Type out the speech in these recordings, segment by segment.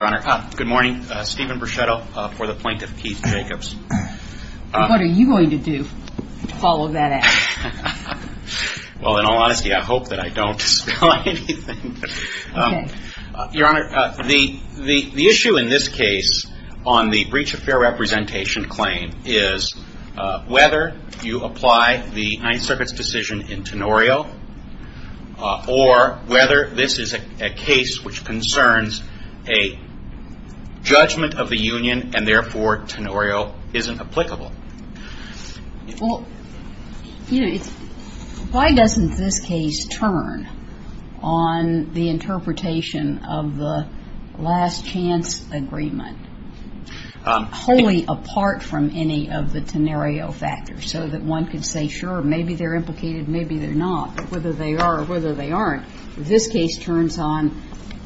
Your Honor, good morning. Stephen Bruchetto for the Plaintiff, Keith Jacobs. What are you going to do to follow that ad? Well, in all honesty, I hope that I don't spill anything. Your Honor, the issue in this case on the breach of fair representation claim is whether you apply the Ninth Circuit's decision in Tenorio or whether this is a case which concerns a judgment of the union and therefore Tenorio isn't applicable. Well, why doesn't this case turn on the interpretation of the last chance agreement, wholly apart from any of the Tenorio factors, so that one could say, sure, maybe they're implicated, maybe they're not, but whether they are or whether they aren't, this case turns on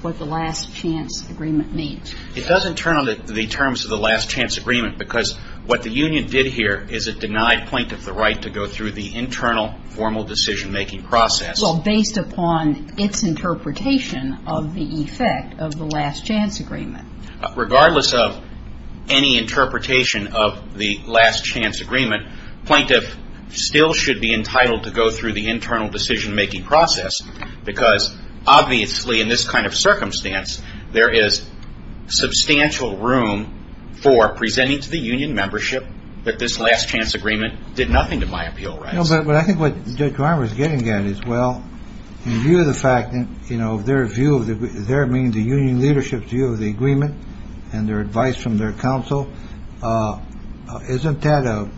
what the last chance agreement means. It doesn't turn on the terms of the last chance agreement because what the union did here is it denied Plaintiff the right to go through the internal formal decision-making process. Well, based upon its interpretation of the effect of the last chance agreement. Regardless of any interpretation of the last chance agreement, Plaintiff still should be entitled to go through the internal decision-making process because, obviously, in this kind of circumstance, there is substantial room for presenting to the union membership that this last chance agreement did nothing to my appeal rights. But I think what Judge Reimer is getting at is, well, in view of the fact that, you know, their view of the union leadership's view of the agreement and their advice from their counsel, isn't that a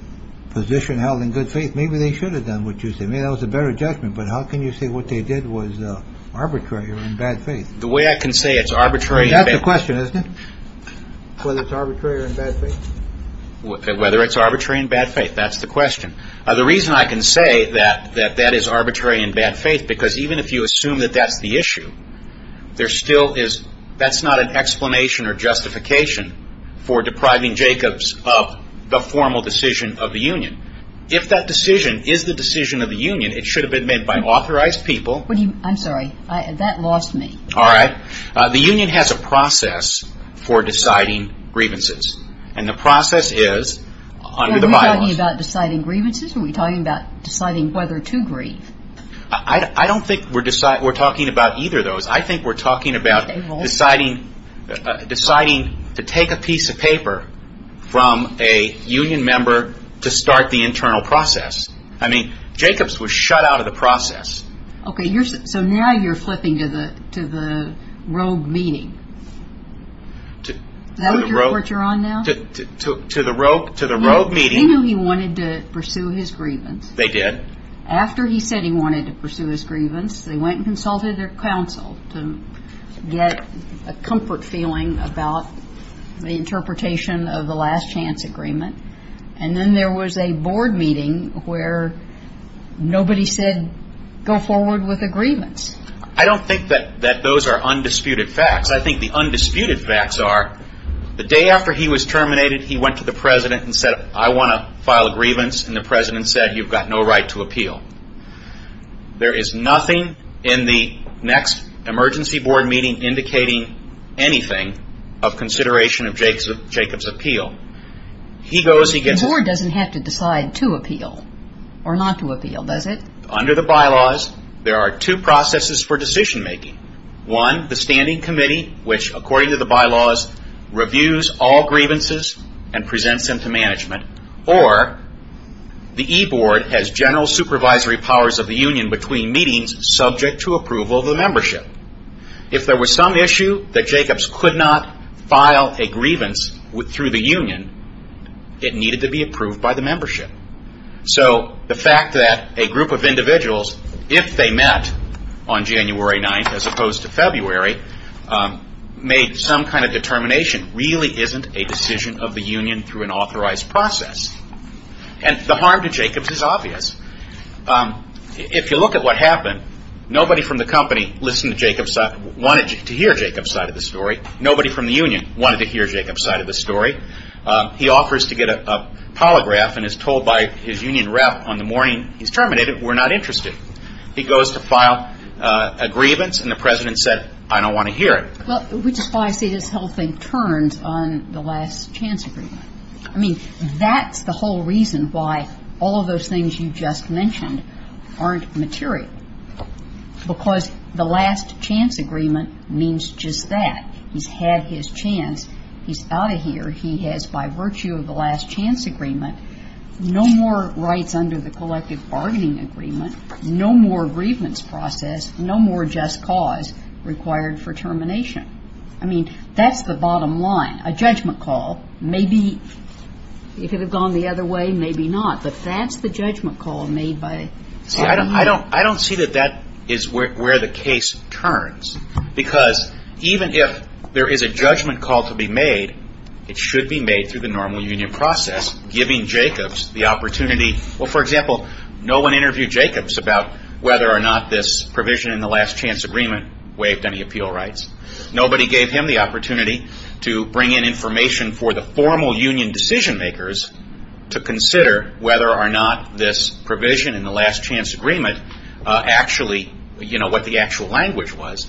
position held in good faith? Maybe they should have done what you say. Maybe that was a better judgment. But how can you say what they did was arbitrary or in bad faith? The way I can say it's arbitrary. That's the question, isn't it? Whether it's arbitrary or in bad faith? Whether it's arbitrary in bad faith. That's the question. The reason I can say that that is arbitrary in bad faith, because even if you assume that that's the issue, there still is. That's not an explanation or justification for depriving Jacobs of the formal decision of the union. If that decision is the decision of the union, it should have been made by authorized people. I'm sorry. That lost me. All right. The union has a process for deciding grievances. And the process is under the bylaws. Are we talking about deciding grievances? Are we talking about deciding whether to grieve? I don't think we're talking about either of those. I think we're talking about deciding to take a piece of paper from a union member to start the internal process. I mean, Jacobs was shut out of the process. Okay. So now you're flipping to the rogue meeting. Is that what you're on now? To the rogue meeting. He knew he wanted to pursue his grievance. They did. After he said he wanted to pursue his grievance, they went and consulted their counsel to get a comfort feeling about the interpretation of the last chance agreement. And then there was a board meeting where nobody said go forward with a grievance. I don't think that those are undisputed facts. I think the undisputed facts are the day after he was terminated, he went to the president and said, I want to file a grievance, and the president said you've got no right to appeal. There is nothing in the next emergency board meeting indicating anything of consideration of Jacobs' appeal. The board doesn't have to decide to appeal or not to appeal, does it? Under the bylaws, there are two processes for decision making. One, the standing committee which, according to the bylaws, reviews all grievances and presents them to management. Or the e-board has general supervisory powers of the union between meetings subject to approval of the membership. If there was some issue that Jacobs could not file a grievance through the union, it needed to be approved by the membership. So the fact that a group of individuals, if they met on January 9th as opposed to February, made some kind of determination really isn't a decision of the union through an authorized process. And the harm to Jacobs is obvious. If you look at what happened, nobody from the company wanted to hear Jacobs' side of the story. Nobody from the union wanted to hear Jacobs' side of the story. He offers to get a polygraph and is told by his union rep on the morning he's terminated, we're not interested. He goes to file a grievance and the president said, I don't want to hear it. Well, which is why I say this whole thing turns on the last chance agreement. I mean, that's the whole reason why all of those things you just mentioned aren't material. Because the last chance agreement means just that. He's had his chance. He's out of here. He has, by virtue of the last chance agreement, no more rights under the collective bargaining agreement, no more grievance process, no more just cause required for termination. I mean, that's the bottom line. A judgment call, maybe if it had gone the other way, maybe not. But that's the judgment call made by the union. I don't see that that is where the case turns. Because even if there is a judgment call to be made, it should be made through the normal union process, giving Jacobs the opportunity. Well, for example, no one interviewed Jacobs about whether or not this provision in the last chance agreement waived any appeal rights. Nobody gave him the opportunity to bring in information for the formal union decision makers to consider whether or not this provision in the last chance agreement actually, you know, what the actual language was.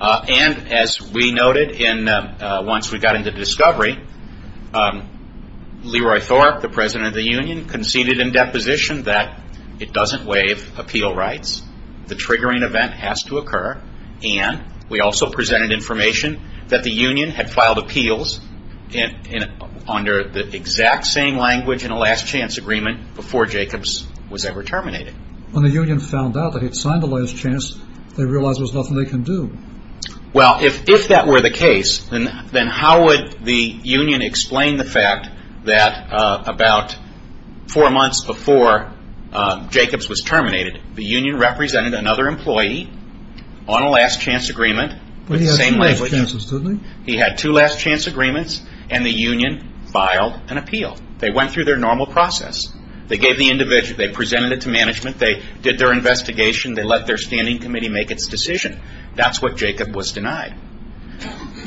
And as we noted once we got into discovery, Leroy Thorpe, the president of the union, conceded in deposition that it doesn't waive appeal rights. The triggering event has to occur. And we also presented information that the union had filed appeals under the exact same language in a last chance agreement before Jacobs was ever terminated. When the union found out that he had signed the last chance, they realized there was nothing they could do. Well, if that were the case, then how would the union explain the fact that about four months before Jacobs was terminated, the union represented another employee on a last chance agreement with the same language. He had two last chance agreements, and the union filed an appeal. They went through their normal process. They presented it to management. They did their investigation. They let their standing committee make its decision. That's what Jacobs was denied.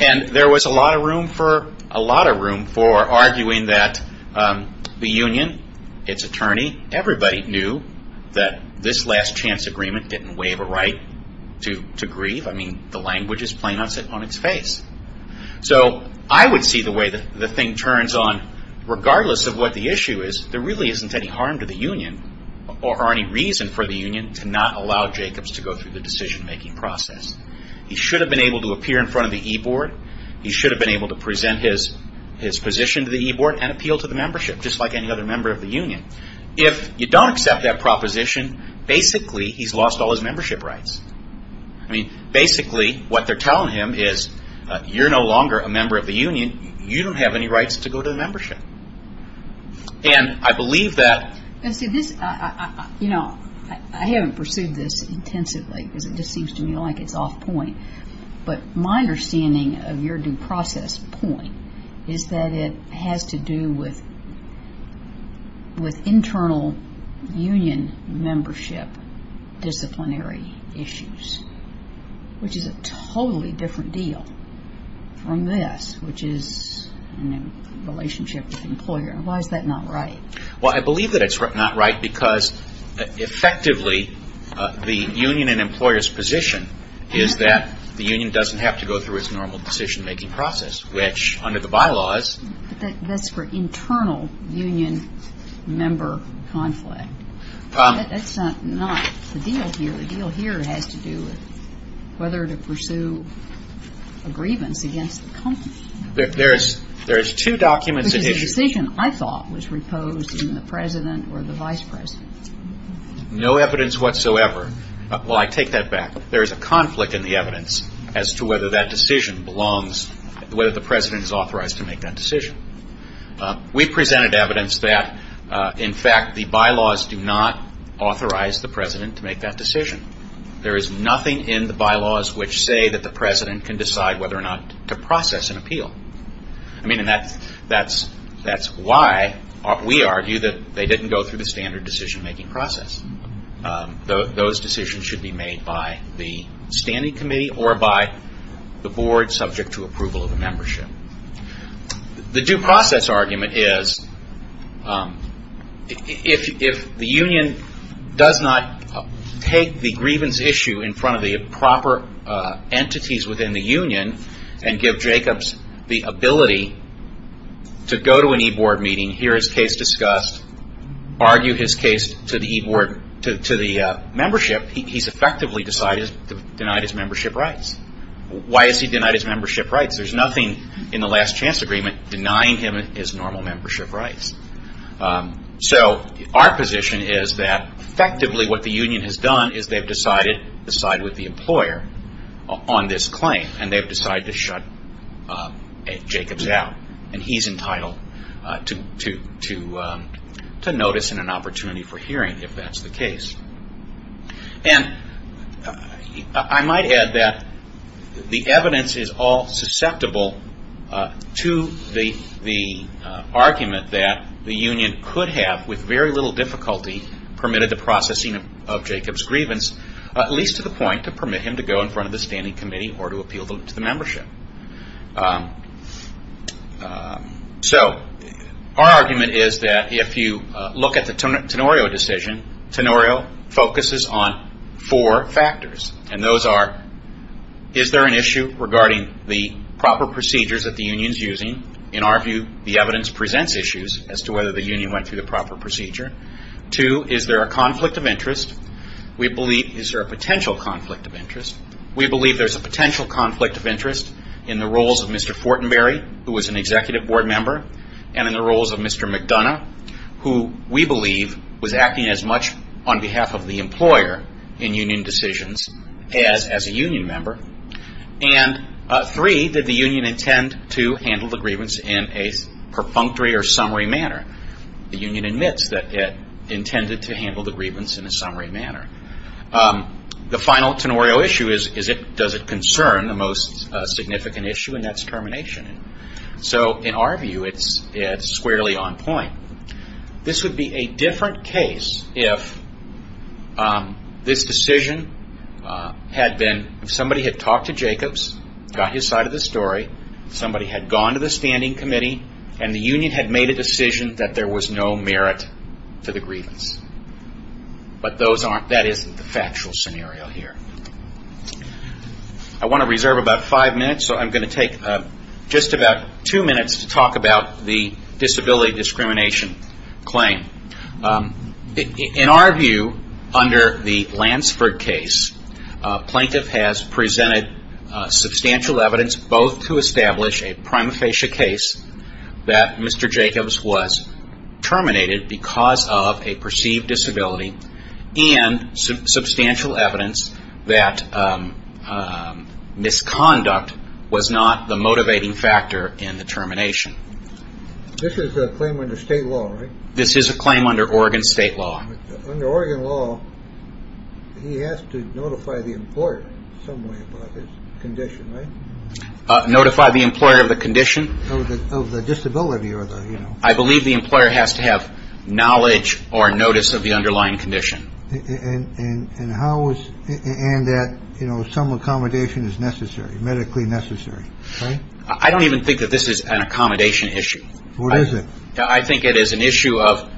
And there was a lot of room for arguing that the union, its attorney, everybody knew that this last chance agreement didn't waive a right to grieve. I mean, the language is plain on its face. So I would see the way the thing turns on, regardless of what the issue is, there really isn't any harm to the union or any reason for the union to not allow Jacobs to go through the decision-making process. He should have been able to appear in front of the e-board. He should have been able to present his position to the e-board and appeal to the membership, just like any other member of the union. If you don't accept that proposition, basically he's lost all his membership rights. I mean, basically what they're telling him is, you're no longer a member of the union. You don't have any rights to go to the membership. And I believe that... You know, I haven't pursued this intensively because it just seems to me like it's off point. But my understanding of your due process point is that it has to do with internal union membership disciplinary issues, which is a totally different deal from this, which is a relationship with the employer. Why is that not right? Well, I believe that it's not right because effectively the union and employer's position is that the union doesn't have to go through its normal decision-making process, which under the bylaws... But that's for internal union member conflict. That's not the deal here. The deal here has to do with whether to pursue a grievance against the company. There's two documents that... The decision, I thought, was reposed in the president or the vice president. No evidence whatsoever. Well, I take that back. There is a conflict in the evidence as to whether that decision belongs, whether the president is authorized to make that decision. We presented evidence that, in fact, the bylaws do not authorize the president to make that decision. There is nothing in the bylaws which say that the president can decide whether or not to process an appeal. I mean, and that's why we argue that they didn't go through the standard decision-making process. Those decisions should be made by the standing committee or by the board subject to approval of a membership. The due process argument is if the union does not take the grievance issue in front of the proper entities within the union and give Jacobs the ability to go to an e-board meeting, hear his case discussed, argue his case to the membership, he's effectively denied his membership rights. Why is he denied his membership rights? There's nothing in the last chance agreement denying him his normal membership rights. So our position is that effectively what the union has done is they've decided to side with the employer on this claim and they've decided to shut Jacobs out. And he's entitled to notice and an opportunity for hearing if that's the case. And I might add that the evidence is all susceptible to the argument that the union could have, with very little difficulty, permitted the processing of Jacobs' grievance, at least to the point to permit him to go in front of the standing committee or to appeal to the membership. So our argument is that if you look at the Tenorio decision, Tenorio focuses on four factors. And those are, is there an issue regarding the proper procedures that the union is using? In our view, the evidence presents issues as to whether the union went through the proper procedure. Two, is there a conflict of interest? Is there a potential conflict of interest? We believe there's a potential conflict of interest in the roles of Mr. Fortenberry, who was an executive board member, and in the roles of Mr. McDonough, who we believe was acting as much on behalf of the employer in union decisions as a union member. And three, did the union intend to handle the grievance in a perfunctory or summary manner? The union admits that it intended to handle the grievance in a summary manner. The final Tenorio issue is, does it concern the most significant issue, and that's termination. So in our view, it's squarely on point. This would be a different case if this decision had been, if somebody had talked to Jacobs, got his side of the story, somebody had gone to the standing committee, and the union had made a decision that there was no merit to the grievance. But that isn't the factual scenario here. I want to reserve about five minutes, so I'm going to take just about two minutes to talk about the disability discrimination claim. In our view, under the Lansford case, plaintiff has presented substantial evidence, both to establish a prima facie case that Mr. Jacobs was terminated because of a perceived disability, and substantial evidence that misconduct was not the motivating factor in the termination. This is a claim under state law, right? This is a claim under Oregon state law. Under Oregon law, he has to notify the employer in some way about his condition, right? Notify the employer of the condition. Of the disability or the, you know. I believe the employer has to have knowledge or notice of the underlying condition. And how is, and that, you know, some accommodation is necessary, medically necessary, right? I don't even think that this is an accommodation issue. What is it? I think it is an issue of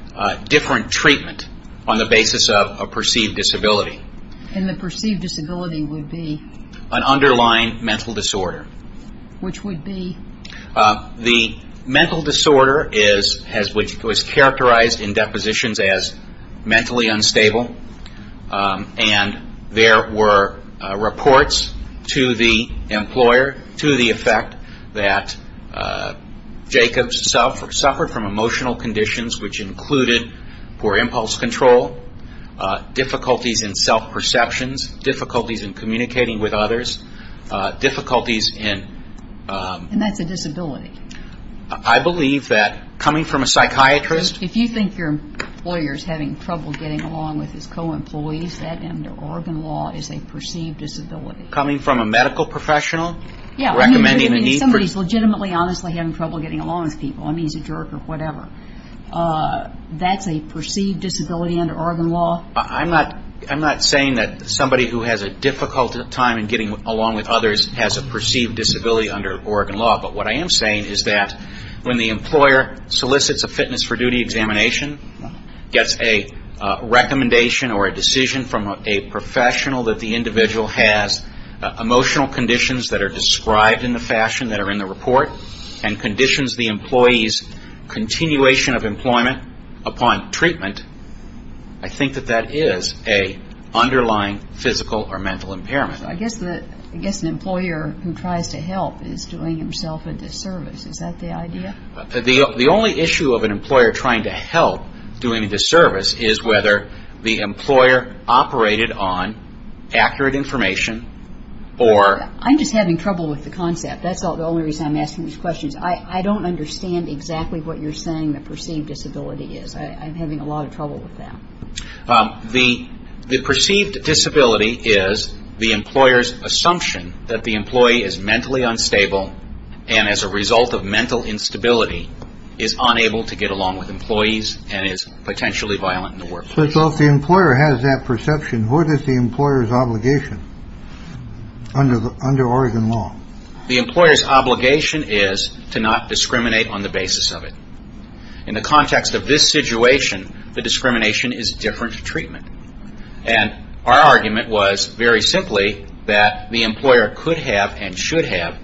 different treatment on the basis of a perceived disability. And the perceived disability would be? An underlying mental disorder. Which would be? The mental disorder is, was characterized in depositions as mentally unstable. And there were reports to the employer to the effect that Jacobs suffered from emotional conditions, which included poor impulse control, difficulties in self-perceptions, difficulties in communicating with others, difficulties in. And that's a disability. I believe that coming from a psychiatrist. If you think your employer is having trouble getting along with his co-employees, that under Oregon law is a perceived disability. Coming from a medical professional? Yeah. Recommending the need for. I mean, if somebody is legitimately honestly having trouble getting along with people, I mean, he's a jerk or whatever, that's a perceived disability under Oregon law? I'm not saying that somebody who has a difficult time in getting along with others has a perceived disability under Oregon law. But what I am saying is that when the employer solicits a fitness for duty examination, gets a recommendation or a decision from a professional that the individual has emotional conditions that are described in the fashion that are in the report, and conditions the employee's continuation of employment upon treatment, I think that that is an underlying physical or mental impairment. I guess an employer who tries to help is doing himself a disservice. Is that the idea? The only issue of an employer trying to help doing a disservice is whether the employer operated on accurate information or... I'm just having trouble with the concept. That's the only reason I'm asking these questions. I don't understand exactly what you're saying the perceived disability is. I'm having a lot of trouble with that. The perceived disability is the employer's assumption that the employee is mentally unstable and as a result of mental instability is unable to get along with employees and is potentially violent in the workplace. So if the employer has that perception, what is the employer's obligation under Oregon law? The employer's obligation is to not discriminate on the basis of it. In the context of this situation, the discrimination is different treatment. And our argument was very simply that the employer could have and should have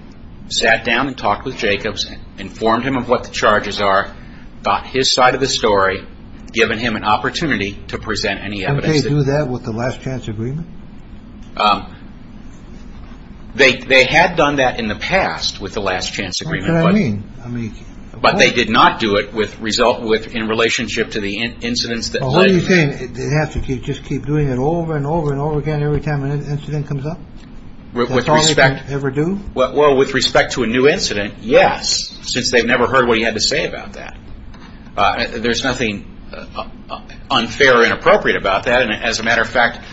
sat down and talked with Jacobs, informed him of what the charges are, got his side of the story, given him an opportunity to present any evidence. Didn't they do that with the last chance agreement? They had done that in the past with the last chance agreement. What do you mean? But they did not do it in relationship to the incidents that led to it. What are you saying? They have to just keep doing it over and over and over again every time an incident comes up? That's all they ever do? Well, with respect to a new incident, yes, since they've never heard what he had to say about that. There's nothing unfair or inappropriate about that. And as a matter of fact,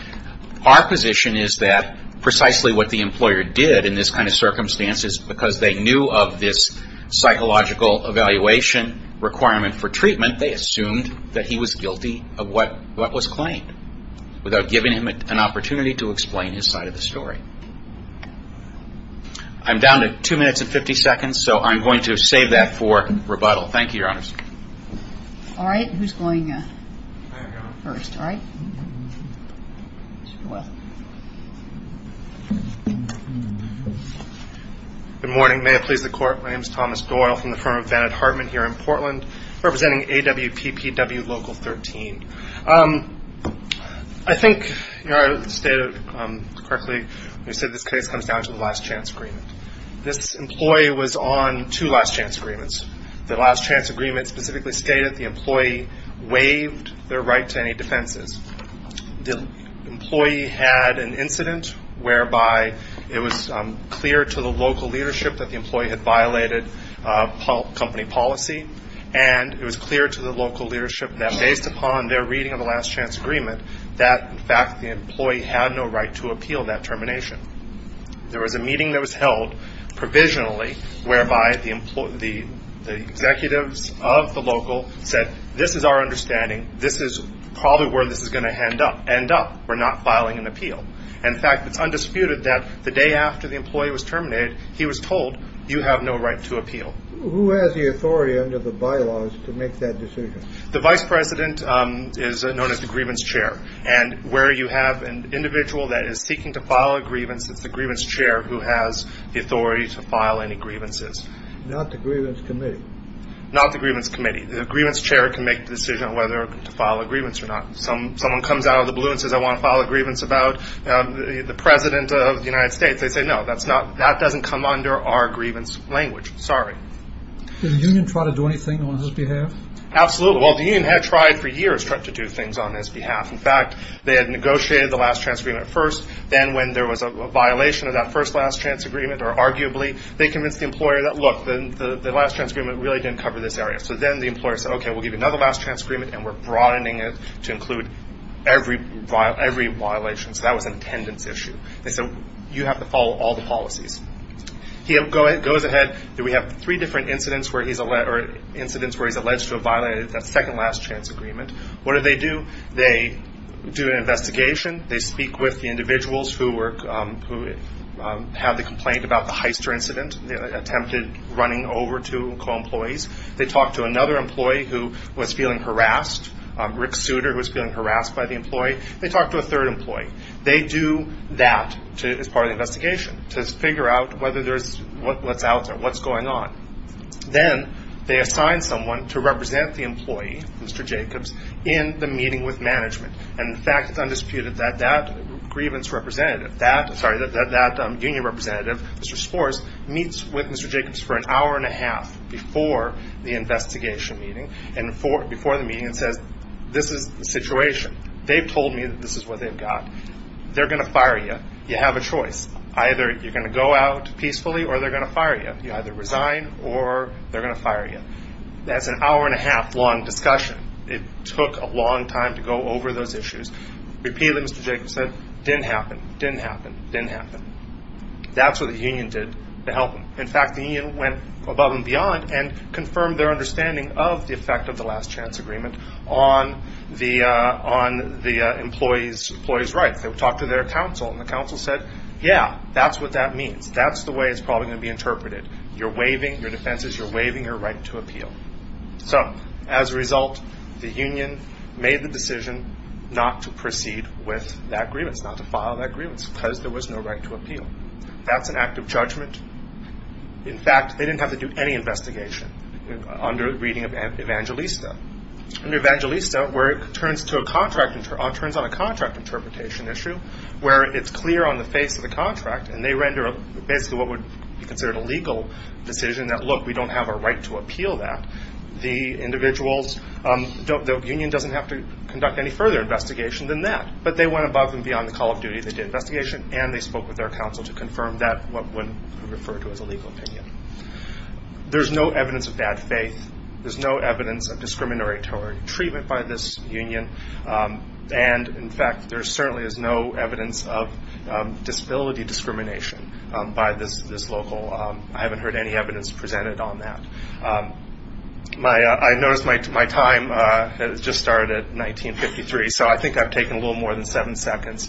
our position is that precisely what the employer did in this kind of circumstance is because they knew of this psychological evaluation requirement for treatment, they assumed that he was guilty of what was claimed, without giving him an opportunity to explain his side of the story. I'm down to two minutes and 50 seconds, so I'm going to save that for rebuttal. Thank you, Your Honor. All right, who's going first? All right. Good morning. May it please the Court. My name is Thomas Doyle from the firm of Vannett Hartman here in Portland, representing AWPPW Local 13. I think Your Honor stated correctly when you said this case comes down to the last chance agreement. This employee was on two last chance agreements. The last chance agreement specifically stated the employee waived their right to any defenses. The employee had an incident whereby it was clear to the local leadership that the employee had violated company policy, and it was clear to the local leadership that based upon their reading of the last chance agreement, that in fact the employee had no right to appeal that termination. There was a meeting that was held provisionally, whereby the executives of the local said, this is our understanding. This is probably where this is going to end up. We're not filing an appeal. In fact, it's undisputed that the day after the employee was terminated, he was told, you have no right to appeal. Who has the authority under the bylaws to make that decision? The vice president is known as the grievance chair, and where you have an individual that is seeking to file a grievance, it's the grievance chair who has the authority to file any grievances. Not the grievance committee? Not the grievance committee. The grievance chair can make the decision on whether to file a grievance or not. Someone comes out of the blue and says, I want to file a grievance about the president of the United States. They say, no, that doesn't come under our grievance language. Sorry. Did the union try to do anything on his behalf? Absolutely. Well, the union had tried for years to do things on his behalf. In fact, they had negotiated the last chance agreement first. Then when there was a violation of that first last chance agreement, or arguably, they convinced the employer that, look, the last chance agreement really didn't cover this area. So then the employer said, okay, we'll give you another last chance agreement, and we're broadening it to include every violation. So that was an attendance issue. They said, you have to follow all the policies. He goes ahead. We have three different incidents where he's alleged to have violated that second last chance agreement. What do they do? They do an investigation. They speak with the individuals who have the complaint about the Heister incident, attempted running over to co-employees. They talk to another employee who was feeling harassed, Rick Souter, who was feeling harassed by the employee. They talk to a third employee. They do that as part of the investigation, to figure out whether there's what's out there, what's going on. Then they assign someone to represent the employee, Mr. Jacobs, in the meeting with management. And, in fact, it's undisputed that that grievance representative, that union representative, Mr. Spores, meets with Mr. Jacobs for an hour and a half before the investigation meeting and before the meeting and says, this is the situation. They've told me that this is what they've got. They're going to fire you. You have a choice. Either you're going to go out peacefully or they're going to fire you. You either resign or they're going to fire you. That's an hour and a half long discussion. It took a long time to go over those issues. Repeatedly, Mr. Jacobs said, didn't happen, didn't happen, didn't happen. That's what the union did to help him. In fact, the union went above and beyond and confirmed their understanding of the effect of the last chance agreement on the employee's rights. They talked to their counsel, and the counsel said, yeah, that's what that means. That's the way it's probably going to be interpreted. You're waiving your defenses. You're waiving your right to appeal. So, as a result, the union made the decision not to proceed with that grievance, not to file that grievance, because there was no right to appeal. That's an act of judgment. In fact, they didn't have to do any investigation under the reading of Evangelista. Under Evangelista, where it turns on a contract interpretation issue where it's clear on the face of the contract, and they render basically what would be considered a legal decision that, look, we don't have a right to appeal that, the union doesn't have to conduct any further investigation than that. But they went above and beyond the call of duty. They did investigation, and they spoke with their counsel to confirm that, what would be referred to as a legal opinion. There's no evidence of bad faith. There's no evidence of discriminatory treatment by this union. And, in fact, there certainly is no evidence of disability discrimination by this local. I haven't heard any evidence presented on that. I noticed my time has just started at 1953, so I think I've taken a little more than seven seconds.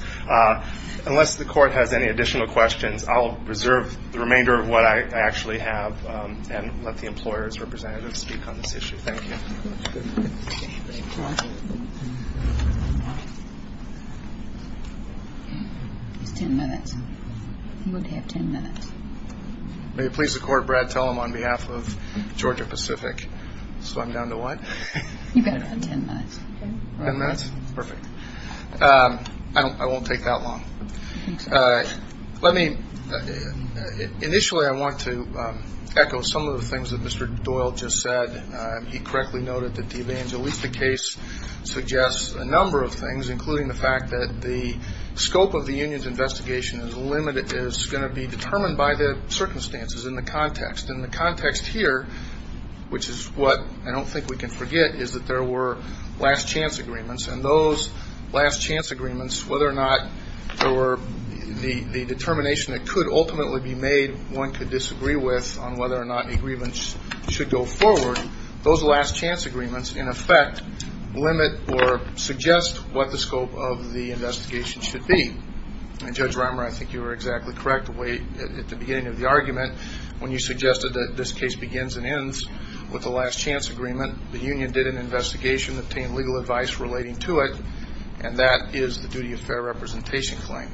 Unless the court has any additional questions, I'll reserve the remainder of what I actually have and let the employer's representative speak on this issue. Thank you. It's ten minutes. You would have ten minutes. May it please the court, Brad Tellem, on behalf of Georgia Pacific. So I'm down to what? You've got about ten minutes. Ten minutes? Perfect. I won't take that long. Let me, initially I want to echo some of the things that Mr. Doyle just said. He correctly noted that the Evangelista case suggests a number of things, including the fact that the scope of the union's investigation is limited, is going to be determined by the circumstances and the context. And the context here, which is what I don't think we can forget, is that there were last-chance agreements, and those last-chance agreements, whether or not there were the determination that could ultimately be made one could disagree with on whether or not agreements should go forward, those last-chance agreements in effect limit or suggest what the scope of the investigation should be. And, Judge Reimer, I think you were exactly correct at the beginning of the argument when you suggested that this case begins and ends with a last-chance agreement. The union did an investigation, obtained legal advice relating to it, and that is the duty of fair representation claim.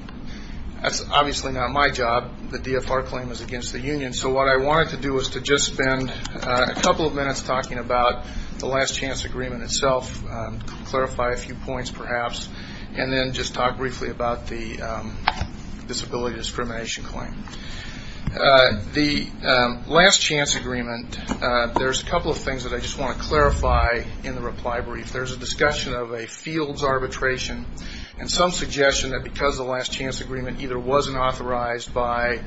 That's obviously not my job. The DFR claim is against the union. So what I wanted to do was to just spend a couple of minutes talking about the last-chance agreement itself, clarify a few points perhaps, and then just talk briefly about the disability discrimination claim. The last-chance agreement, there's a couple of things that I just want to clarify in the reply brief. There's a discussion of a fields arbitration and some suggestion that because the last-chance agreement either wasn't authorized by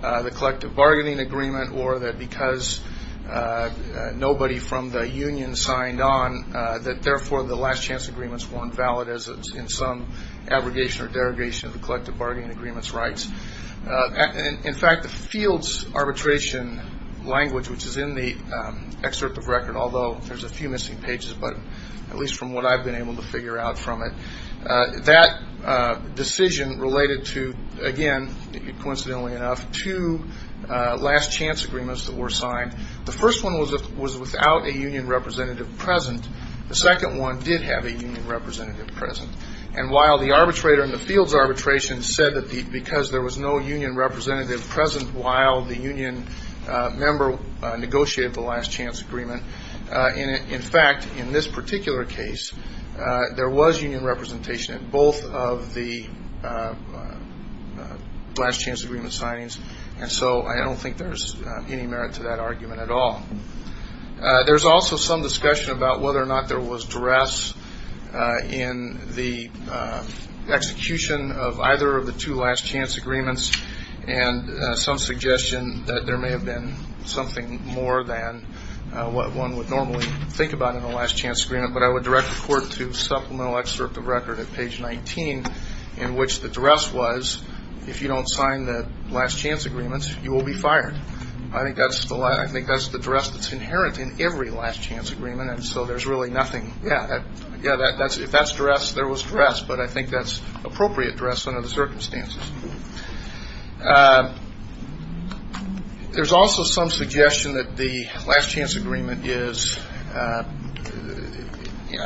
the collective bargaining agreement or that because nobody from the union signed on, that therefore the last-chance agreements weren't valid in some abrogation In fact, the fields arbitration language, which is in the excerpt of record, although there's a few missing pages, but at least from what I've been able to figure out from it, that decision related to, again, coincidentally enough, two last-chance agreements that were signed. The first one was without a union representative present. The second one did have a union representative present. And while the arbitrator in the fields arbitration said that because there was no union representative present while the union member negotiated the last-chance agreement, in fact, in this particular case, there was union representation at both of the last-chance agreement signings. And so I don't think there's any merit to that argument at all. There's also some discussion about whether or not there was duress in the execution of either of the two last-chance agreements and some suggestion that there may have been something more than what one would normally think about in a last-chance agreement. But I would direct the court to supplemental excerpt of record at page 19 in which the duress was, if you don't sign the last-chance agreements, you will be fired. I think that's the duress that's inherent in every last-chance agreement, and so there's really nothing. Yeah, if that's duress, there was duress, but I think that's appropriate duress under the circumstances. There's also some suggestion that the last-chance agreement is, I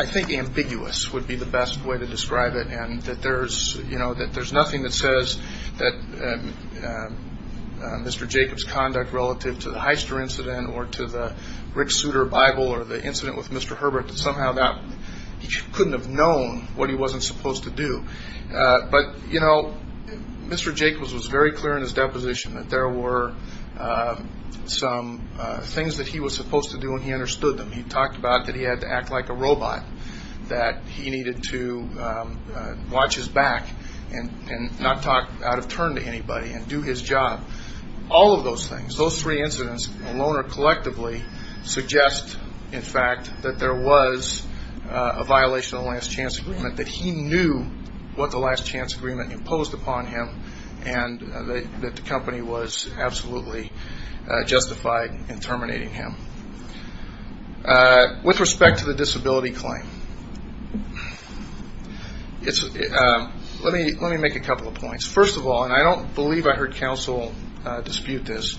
think, ambiguous would be the best way to describe it and that there's nothing that says that Mr. Jacobs' conduct relative to the Heister incident or to the Rick Suter Bible or the incident with Mr. Herbert that somehow he couldn't have known what he wasn't supposed to do. But, you know, Mr. Jacobs was very clear in his deposition that there were some things that he was supposed to do and he understood them. He talked about that he had to act like a robot, that he needed to watch his back and not talk out of turn to anybody and do his job. All of those things, those three incidents alone or collectively suggest, in fact, that there was a violation of the last-chance agreement, that he knew what the last-chance agreement imposed upon him and that the company was absolutely justified in terminating him. With respect to the disability claim, let me make a couple of points. First of all, and I don't believe I heard counsel dispute this,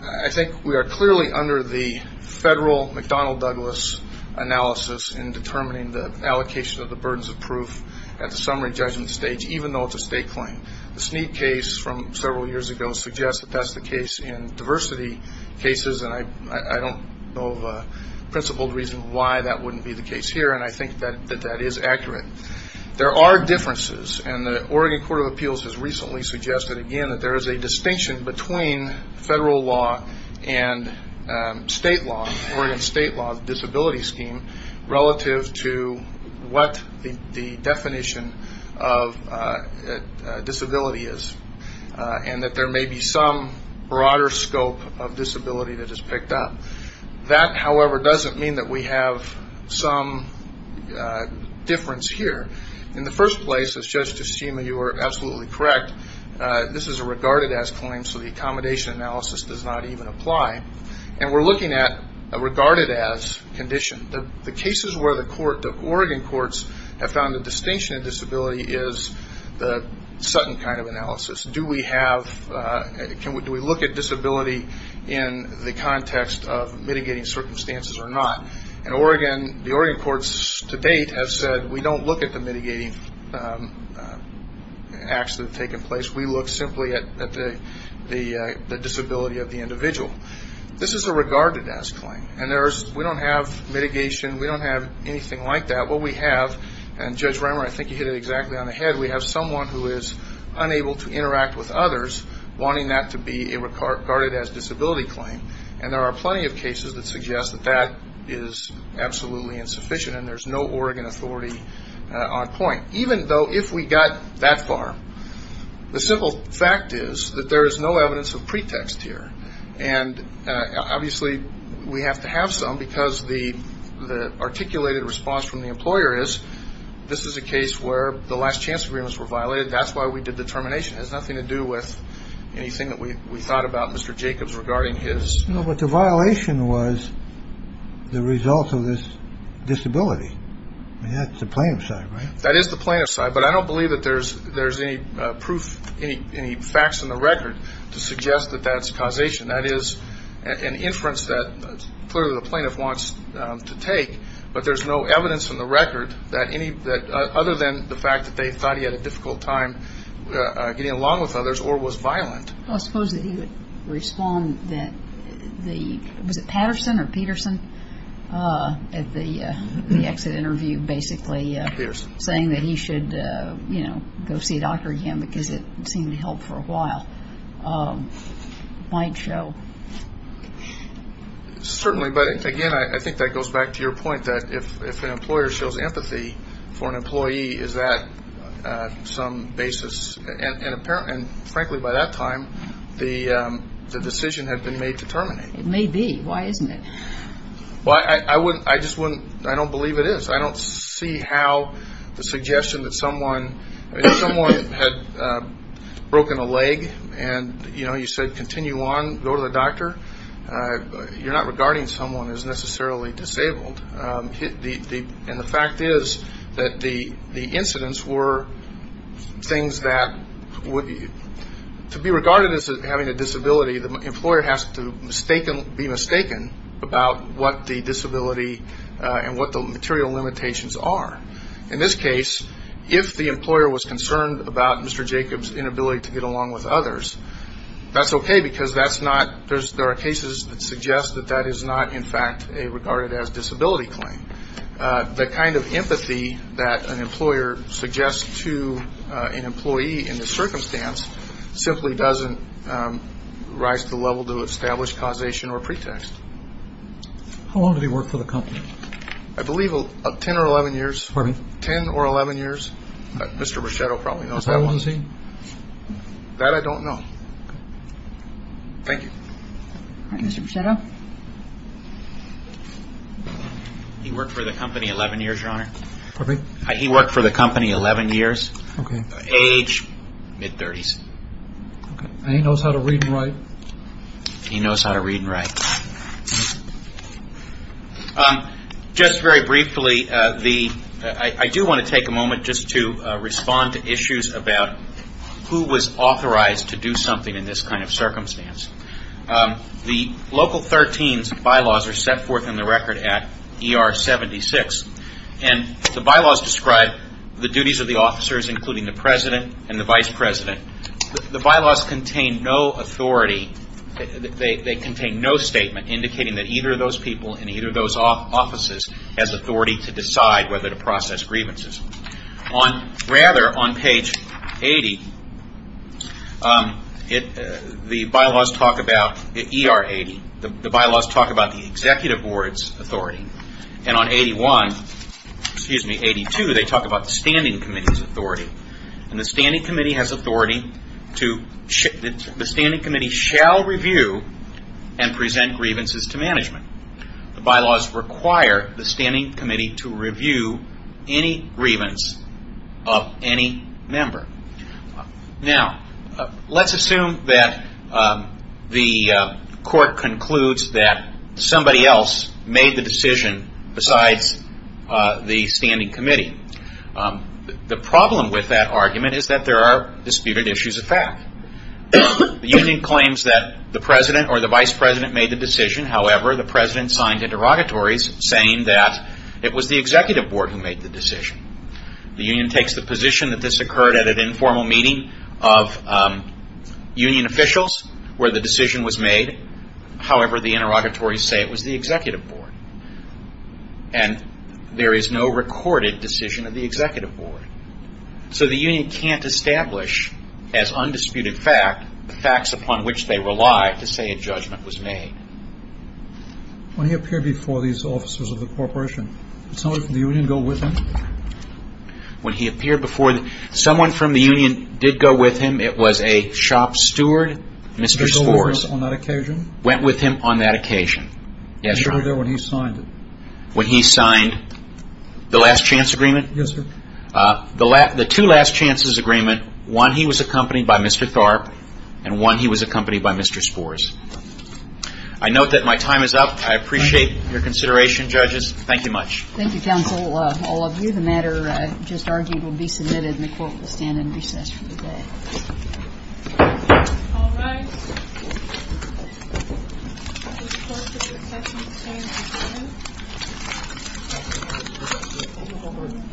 I think we are clearly under the federal McDonnell Douglas analysis in determining the allocation of the burdens of proof at the summary judgment stage, even though it's a state claim. The Snead case from several years ago suggests that that's the case in diversity cases and I don't know of a principled reason why that wouldn't be the case here and I think that that is accurate. There are differences and the Oregon Court of Appeals has recently suggested again that there is a distinction between federal law and state law, Oregon state law disability scheme, relative to what the definition of disability is, and that there may be some broader scope of disability that is picked up. That, however, doesn't mean that we have some difference here. In the first place, as Judge DeSema, you are absolutely correct, this is a regarded-as claim so the accommodation analysis does not even apply and we are looking at a regarded-as condition. The cases where the Oregon courts have found the distinction of disability is the Sutton kind of analysis. Do we look at disability in the context of mitigating circumstances or not? The Oregon courts to date have said we don't look at the mitigating acts that have taken place, we look simply at the disability of the individual. This is a regarded-as claim and we don't have mitigation, we don't have anything like that. What we have, and Judge Reimer, I think you hit it exactly on the head, we have someone who is unable to interact with others wanting that to be a regarded-as disability claim and there are plenty of cases that suggest that that is absolutely insufficient and there is no Oregon authority on point. Even though if we got that far, the simple fact is that there is no evidence of pretext here and obviously we have to have some because the articulated response from the employer is this is a case where the last chance agreements were violated, that's why we did the termination. It has nothing to do with anything that we thought about Mr. Jacobs regarding his... But the violation was the result of this disability. That's the plaintiff's side, right? That is the plaintiff's side, but I don't believe that there's any proof, any facts in the record to suggest that that's causation. That is an inference that clearly the plaintiff wants to take, but there's no evidence in the record other than the fact that they thought he had a difficult time getting along with others or was violent. I suppose that he would respond that the... Was it Patterson or Peterson at the exit interview basically? Peterson. Saying that he should go see a doctor again because it seemed to help for a while. Might show. Certainly, but again, I think that goes back to your point that if an employer shows empathy for an employee, maybe is that some basis, and frankly by that time the decision had been made to terminate. It may be. Why isn't it? I just wouldn't, I don't believe it is. I don't see how the suggestion that someone, if someone had broken a leg and you said continue on, go to the doctor, you're not regarding someone as necessarily disabled. And the fact is that the incidents were things that to be regarded as having a disability, the employer has to be mistaken about what the disability and what the material limitations are. In this case, if the employer was concerned about Mr. Jacobs' inability to get along with others, that's okay because that's not, there are cases that suggest that that is not in fact a regarded as disability claim. The kind of empathy that an employer suggests to an employee in this circumstance simply doesn't rise to the level to establish causation or pretext. How long did he work for the company? I believe 10 or 11 years. Pardon me? 10 or 11 years. Mr. Brichetto probably knows that one. How long was he? That I don't know. Thank you. Mr. Brichetto? He worked for the company 11 years, Your Honor. Pardon me? He worked for the company 11 years. Okay. Age, mid-30s. Okay. And he knows how to read and write? He knows how to read and write. Okay. Just very briefly, the, I do want to take a moment just to respond to issues about who was authorized to do something in this kind of circumstance. The Local 13's bylaws are set forth in the record at ER 76, and the bylaws describe the duties of the officers, including the president and the vice president. The bylaws contain no authority, they contain no statement indicating that either of those people in either of those offices has authority to decide whether to process grievances. Rather, on page 80, the bylaws talk about ER 80. The bylaws talk about the executive board's authority. And on 81, excuse me, 82, they talk about the standing committee's authority. And the standing committee has authority to, the standing committee shall review and present grievances to management. The bylaws require the standing committee to review any grievance of any member. Now, let's assume that the court concludes that somebody else made the decision besides the standing committee. The problem with that argument is that there are disputed issues of fact. The union claims that the president or the vice president made the decision. However, the president signed interrogatories saying that it was the executive board who made the decision. The union takes the position that this occurred at an informal meeting of union officials where the decision was made. However, the interrogatories say it was the executive board. And there is no recorded decision of the executive board. So the union can't establish as undisputed fact the facts upon which they rely to say a judgment was made. When he appeared before these officers of the corporation, did someone from the union go with him? When he appeared before, someone from the union did go with him. It was a shop steward, Mr. Spors. Went with him on that occasion? Went with him on that occasion. Yes, sir. He was there when he signed it. When he signed the last chance agreement? Yes, sir. The two last chances agreement, one he was accompanied by Mr. Tharp and one he was accompanied by Mr. Spors. I note that my time is up. I appreciate your consideration, judges. Thank you much. Thank you, counsel. All of you, the matter just argued will be submitted and the court will stand in recess for the day. All right. Thank you.